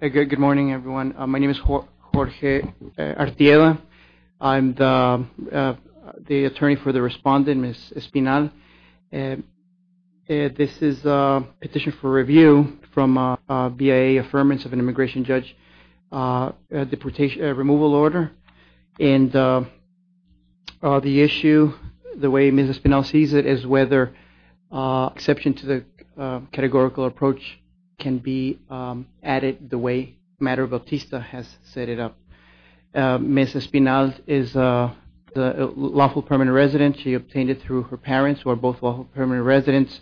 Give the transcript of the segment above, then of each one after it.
Good morning, everyone. My name is Jorge Artiella. I'm the attorney for the respondent, Ms. Espinal. This is a petition for review from a BIA affirmance of an immigration judge removal order. And the issue, the way Ms. Espinal sees it, is whether exception to the categorical approach can be added the way Madre Bautista has set it up. Ms. Espinal is a lawful permanent resident. She obtained it through her parents, who are both lawful permanent residents.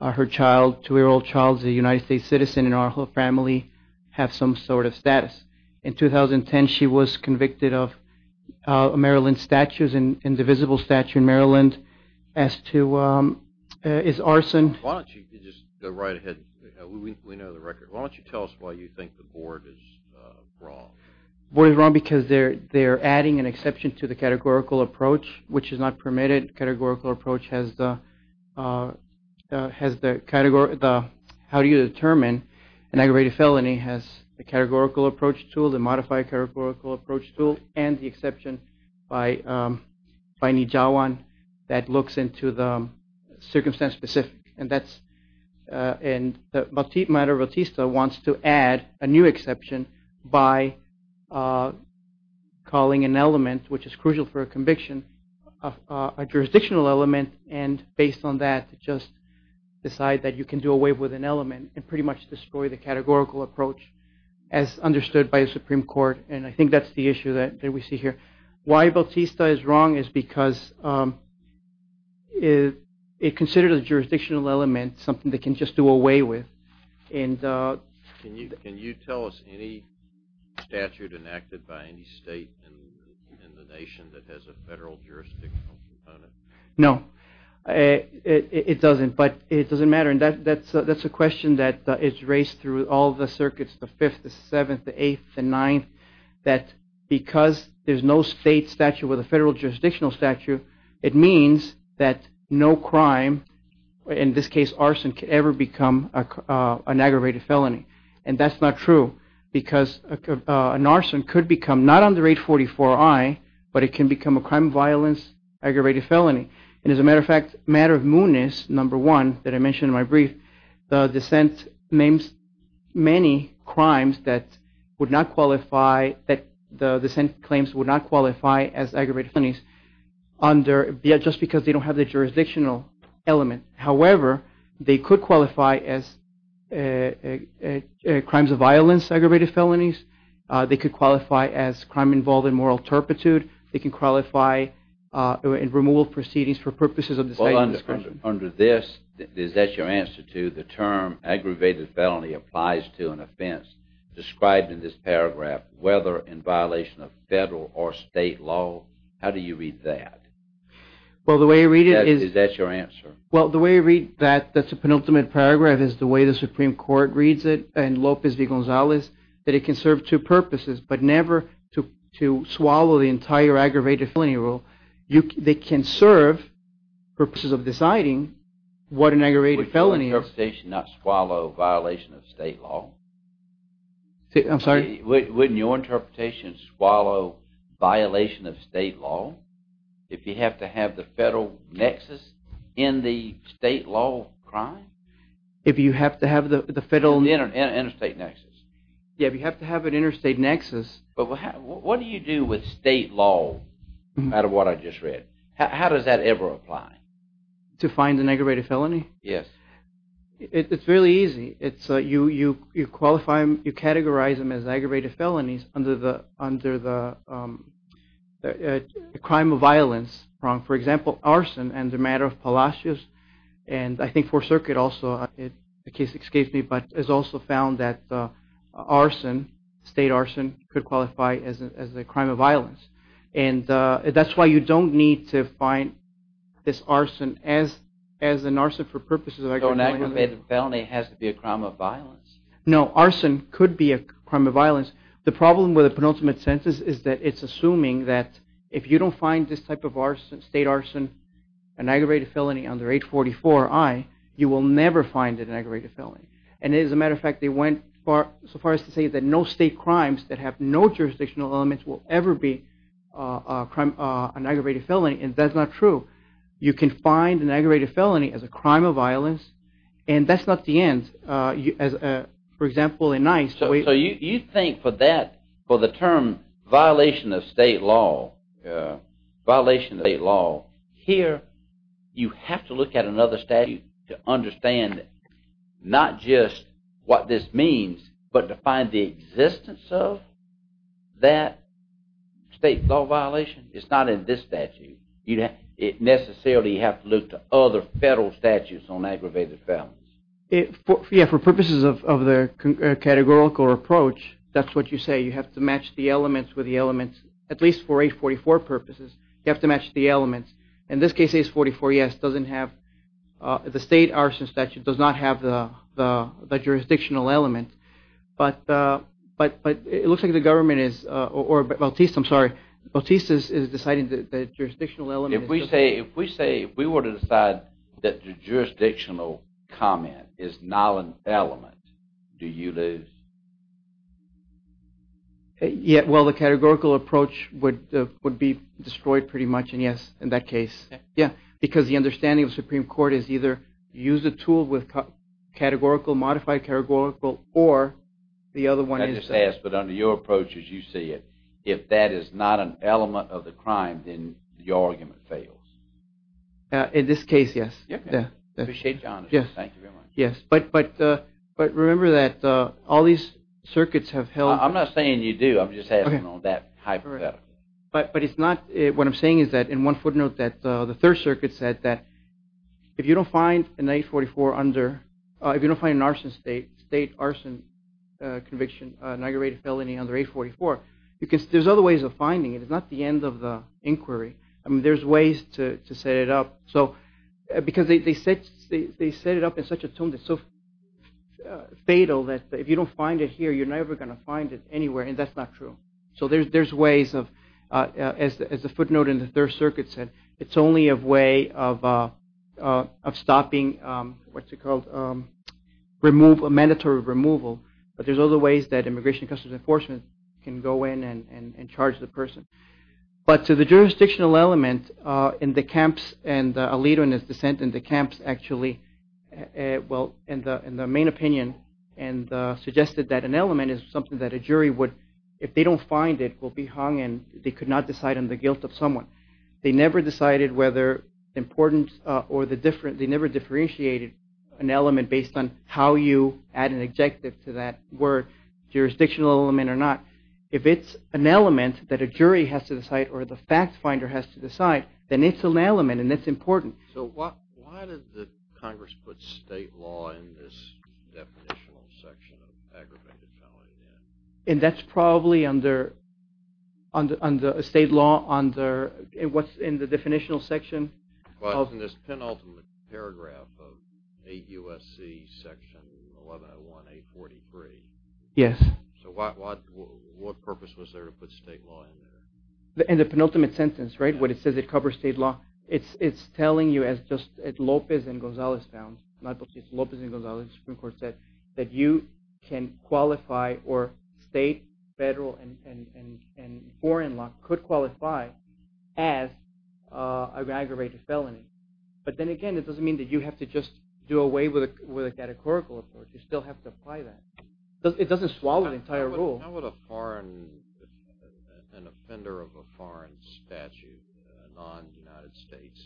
Her two-year-old child is a United States citizen, and our whole family has some sort of status. In 2010, she was convicted of Maryland statutes, an indivisible statute in Maryland, as to, is arson. Why don't you just go right ahead? We know the record. Why don't you tell us why you think the board is wrong? The board is wrong because they are adding an exception to the categorical approach, which is not permitted. The modified categorical approach has the, how do you determine an aggravated felony, has the categorical approach tool, the modified categorical approach tool, and the exception by Nijawan that looks into the circumstance-specific. And Madre Bautista wants to add a new exception by calling an element, which is crucial for a conviction, a jurisdictional element, and based on that, just decide that you can do away with an element and pretty much destroy the categorical approach as understood by the Supreme Court. And I think that's the issue that we see here. Why Bautista is wrong is because it considered a jurisdictional element something they can just do away with. Can you tell us any statute enacted by any state in the nation that has a federal jurisdictional component? No, it doesn't, but it doesn't matter. And that's a question that is raised through all the circuits, the 5th, the 7th, the 8th, the 9th, that because there's no state statute with a federal jurisdictional statute, it means that no crime, in this case arson, can ever become an aggravated felony. And that's not true because an arson could become, not under 844I, but it can become a crime of violence aggravated felony. And as a matter of fact, matter of mootness, number one, that I mentioned in my brief, the dissent names many crimes that would not qualify, that the dissent claims would not qualify as aggravated felonies just because they don't have the jurisdictional element. However, they could qualify as crimes of violence aggravated felonies. They could qualify as crime involved in moral turpitude. They can qualify in removal proceedings for purposes of deciding discretion. Well, under this, is that your answer to the term aggravated felony applies to an offense described in this paragraph, whether in violation of federal or state law? How do you read that? Well, the way I read it is... Is that your answer? Well, the way I read that, that's a penultimate paragraph, is the way the Supreme Court reads it in Lopez v. Gonzalez, that it can serve two purposes, but never to swallow the entire aggravated felony rule. They can serve purposes of deciding what an aggravated felony is. Wouldn't your interpretation not swallow violation of state law? I'm sorry? Wouldn't your interpretation swallow violation of state law? If you have to have the federal nexus in the state law crime? If you have to have the federal... Interstate nexus. Yeah, if you have to have an interstate nexus. But what do you do with state law, out of what I just read? How does that ever apply? To find an aggravated felony? Yes. It's really easy. You categorize them as aggravated felonies under the crime of violence. For example, arson and the matter of Palacios. And I think Fourth Circuit also, the case, excuse me, but has also found that state arson could qualify as a crime of violence. And that's why you don't need to find this arson as an arson for purposes of aggravated... So an aggravated felony has to be a crime of violence? No, arson could be a crime of violence. The problem with the penultimate sentence is that it's assuming that if you don't find this type of state arson, an aggravated felony under H44I, you will never find it an aggravated felony. And as a matter of fact, they went so far as to say that no state crimes that have no jurisdictional elements will ever be an aggravated felony, and that's not true. You can find an aggravated felony as a crime of violence, and that's not the end. For example, in ICE... So you think for that, for the term violation of state law, here you have to look at another statute to understand not just what this means, but to find the existence of that state law violation? It's not in this statute. You necessarily have to look to other federal statutes on aggravated felonies. Yeah, for purposes of the categorical approach, that's what you say. You have to match the elements with the elements, at least for H44 purposes. You have to match the elements. In this case, H44ES doesn't have... the state arson statute does not have the jurisdictional element. But it looks like the government is... or Bautista, I'm sorry. Bautista is deciding that the jurisdictional element... If we say, if we were to decide that the jurisdictional comment is not an element, do you lose? Yeah, well, the categorical approach would be destroyed pretty much, and yes, in that case, yeah. Because the understanding of the Supreme Court is either use a tool with categorical, modified categorical, or the other one... But under your approach, as you see it, if that is not an element of the crime, then the argument fails. In this case, yes. Appreciate your honesty. Thank you very much. Yes, but remember that all these circuits have held... I'm not saying you do. I'm just asking on that hypothetical. But it's not... what I'm saying is that, in one footnote, that the Third Circuit said that if you don't find an H44 under... if you don't find an arson state, state arson conviction, an aggravated felony under H44, there's other ways of finding it. It's not the end of the inquiry. There's ways to set it up. Because they set it up in such a tone that's so fatal that if you don't find it here, you're never going to find it anywhere, and that's not true. So there's ways of... as the footnote in the Third Circuit said, it's only a way of stopping, what's it called, mandatory removal. But there's other ways that Immigration and Customs Enforcement can go in and charge the person. But to the jurisdictional element, in the camps, and Alito and his dissent in the camps actually... that an element is something that a jury would... if they don't find it, will be hung and they could not decide on the guilt of someone. They never decided whether the importance or the difference... they never differentiated an element based on how you add an adjective to that word, jurisdictional element or not. If it's an element that a jury has to decide or the fact finder has to decide, then it's an element and it's important. So why did the Congress put state law in this definitional section of aggravated felony? And that's probably under state law under... what's in the definitional section? Well, it's in this penultimate paragraph of 8 U.S.C. section 1101-843. Yes. So what purpose was there to put state law in there? In the penultimate sentence, right, when it says it covers state law, it's telling you as just as Lopez and Gonzales found, not just Lopez and Gonzales, the Supreme Court said, that you can qualify or state, federal, and foreign law could qualify as an aggravated felony. But then again, it doesn't mean that you have to just do away with a catechorical approach. You still have to apply that. It doesn't swallow the entire rule. How would an offender of a foreign statute, a non-United States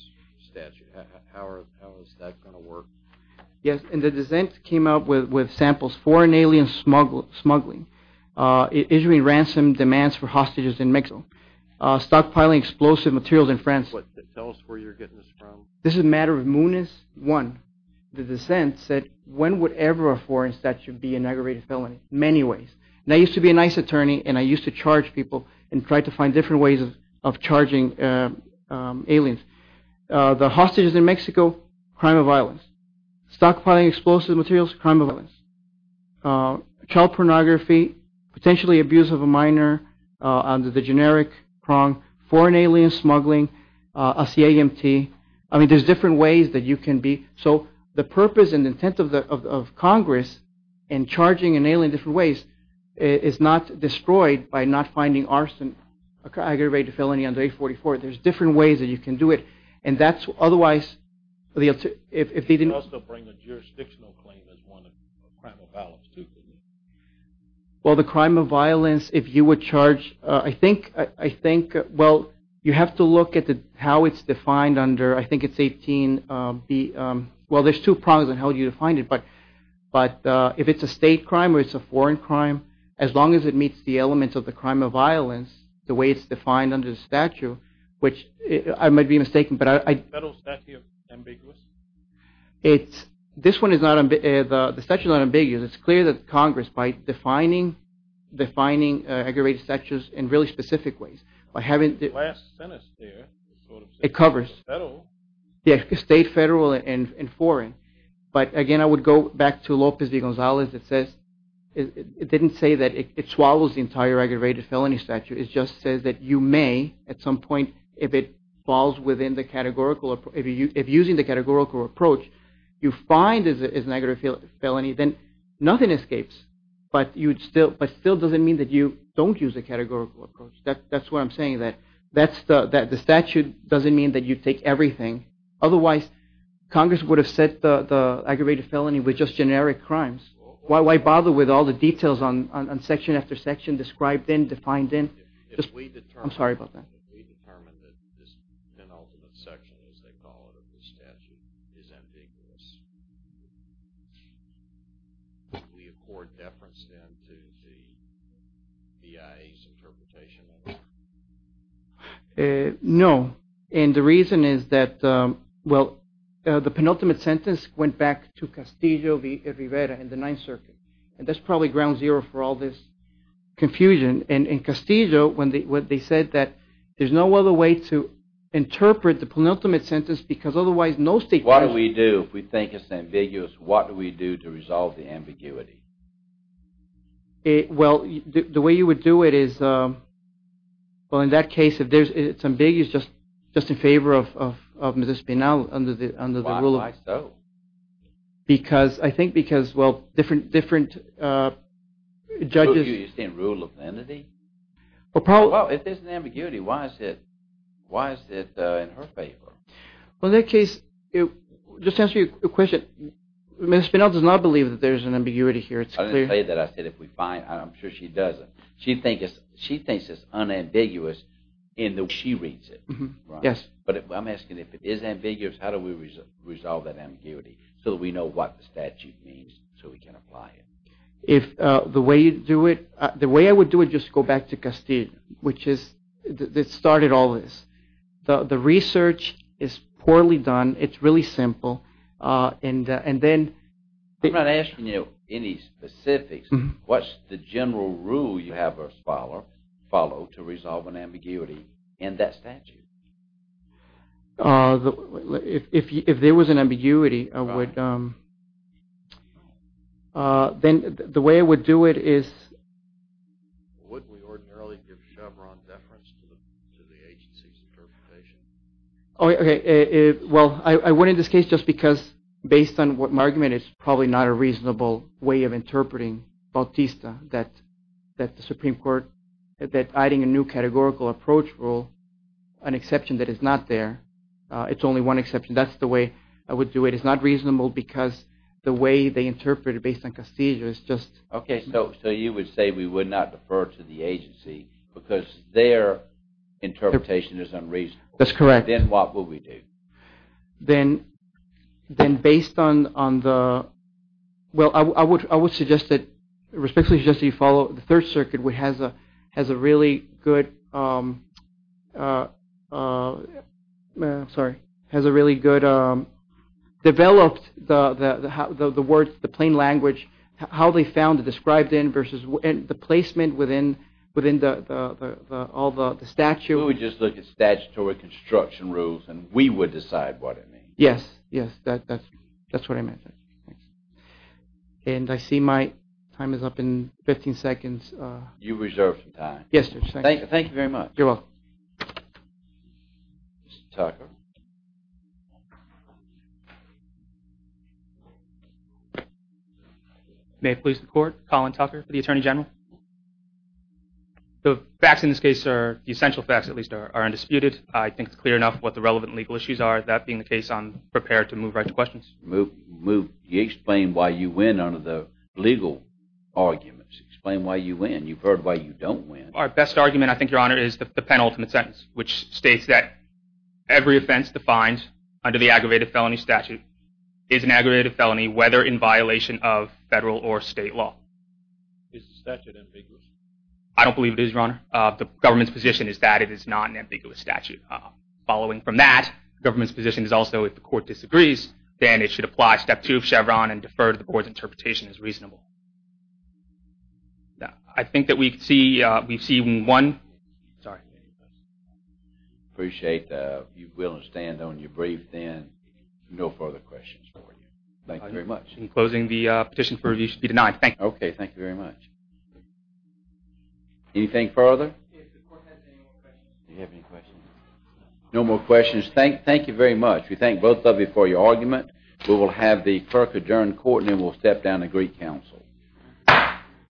statute, how is that going to work? Yes, and the dissent came out with samples. Foreign alien smuggling, issuing ransom demands for hostages in Mexico, stockpiling explosive materials in France. Tell us where you're getting this from. This is a matter of Muniz 1. The dissent said, when would ever a foreign statute be an aggravated felony? Many ways. And I used to be a nice attorney, and I used to charge people and try to find different ways of charging aliens. The hostages in Mexico, crime of violence. Stockpiling explosive materials, crime of violence. Child pornography. Potentially abuse of a minor under the generic prong. Foreign alien smuggling. A C.A.M.T. I mean, there's different ways that you can be. So the purpose and intent of Congress in charging an alien in different ways is not destroyed by not finding arson, an aggravated felony under 844. There's different ways that you can do it. You could also bring a jurisdictional claim as one of crime of violence, too, couldn't you? Well, the crime of violence, if you would charge, I think, well, you have to look at how it's defined under, I think it's 18B. Well, there's two prongs on how you define it, but if it's a state crime or it's a foreign crime, as long as it meets the elements of the crime of violence, the way it's defined under the statute, which I might be mistaken, but I... Is the federal statute ambiguous? It's, this one is not, the statute is not ambiguous. It's clear that Congress, by defining aggravated statutes in really specific ways, by having... The last sentence there, sort of... It covers. Federal. State, federal, and foreign. But, again, I would go back to Lopez de Gonzalez that says, it didn't say that it swallows the entire aggravated felony statute. It just says that you may, at some point, if it falls within the categorical, if using the categorical approach, you find is an aggravated felony, then nothing escapes. But you'd still, but still doesn't mean that you don't use the categorical approach. That's what I'm saying, that the statute doesn't mean that you take everything. Otherwise, Congress would have set the aggravated felony with just generic crimes. Why bother with all the details on section after section, described in, defined in? If we determine... I'm sorry about that. No. And the reason is that, well, the penultimate sentence went back to Castillo v. Rivera in the Ninth Circuit. And that's probably ground zero for all this confusion. And in Castillo, when they said that there's no other way to interpret the penultimate sentence because otherwise no state... What do we do if we think it's ambiguous? What do we do to resolve the ambiguity? Well, the way you would do it is, well, in that case, if it's ambiguous, just in favor of Mrs. Spinell under the rule of... Why so? Because, I think because, well, different judges... You're saying rule of entity? Well, probably... Well, if there's an ambiguity, why is it in her favor? Well, in that case, just to answer your question, Mrs. Spinell does not believe that there's an ambiguity here. I didn't say that. I said if we find... I'm sure she doesn't. She thinks it's unambiguous in the way she reads it. Yes. But I'm asking, if it is ambiguous, how do we resolve that ambiguity so that we know what the statute means so we can apply it? If the way you do it... The way I would do it, just to go back to Castillo, which is... It started all this. The research is poorly done. It's really simple. And then... I'm not asking you any specifics. What's the general rule you have us follow to resolve an ambiguity in that statute? If there was an ambiguity, I would... Then the way I would do it is... Would we ordinarily give Chevron deference to the agency's interpretation? Okay. Well, I wouldn't in this case just because, based on my argument, it's probably not a reasonable way of interpreting Bautista, that the Supreme Court, that adding a new categorical approach rule, an exception that is not there, it's only one exception. That's the way I would do it. It's not reasonable because the way they interpret it based on Castillo is just... Okay, so you would say we would not defer to the agency because their interpretation is unreasonable. That's correct. Then what would we do? Then, based on the... Well, I would suggest that... Respectfully suggest that you follow the Third Circuit, which has a really good... Sorry. Has a really good... Developed the words, the plain language, how they found it described in versus the placement within all the statutes. We would just look at statutory construction rules and we would decide what it means. Yes, yes. That's what I meant. And I see my time is up in 15 seconds. You reserved some time. Yes, sir. Thank you very much. You're welcome. Mr. Tucker. May it please the court. Colin Tucker for the Attorney General. The facts in this case are, the essential facts at least, are undisputed. I think it's clear enough what the relevant legal issues are. That being the case, I'm prepared to move right to questions. Move. Explain why you win under the legal arguments. Explain why you win. You've heard why you don't win. Our best argument, I think, Your Honor, is the penultimate sentence, which states that every offense defined under the aggravated felony statute is an aggravated felony, whether in violation of federal or state law. Is the statute ambiguous? I don't believe it is, Your Honor. The government's position is that it is not an ambiguous statute. Following from that, the government's position is also if the court disagrees, then it should apply step two of Chevron and defer to the board's interpretation as reasonable. I think that we see one. Sorry. Appreciate you willing to stand on your brief then. No further questions for you. Thank you very much. In closing, the petition for review should be denied. Thank you. Okay. Thank you very much. Anything further? If the court has any more questions. Do you have any questions? No more questions. Thank you very much. We thank both of you for your argument. We will have the clerk adjourn the court and then we'll step down to Greek counsel.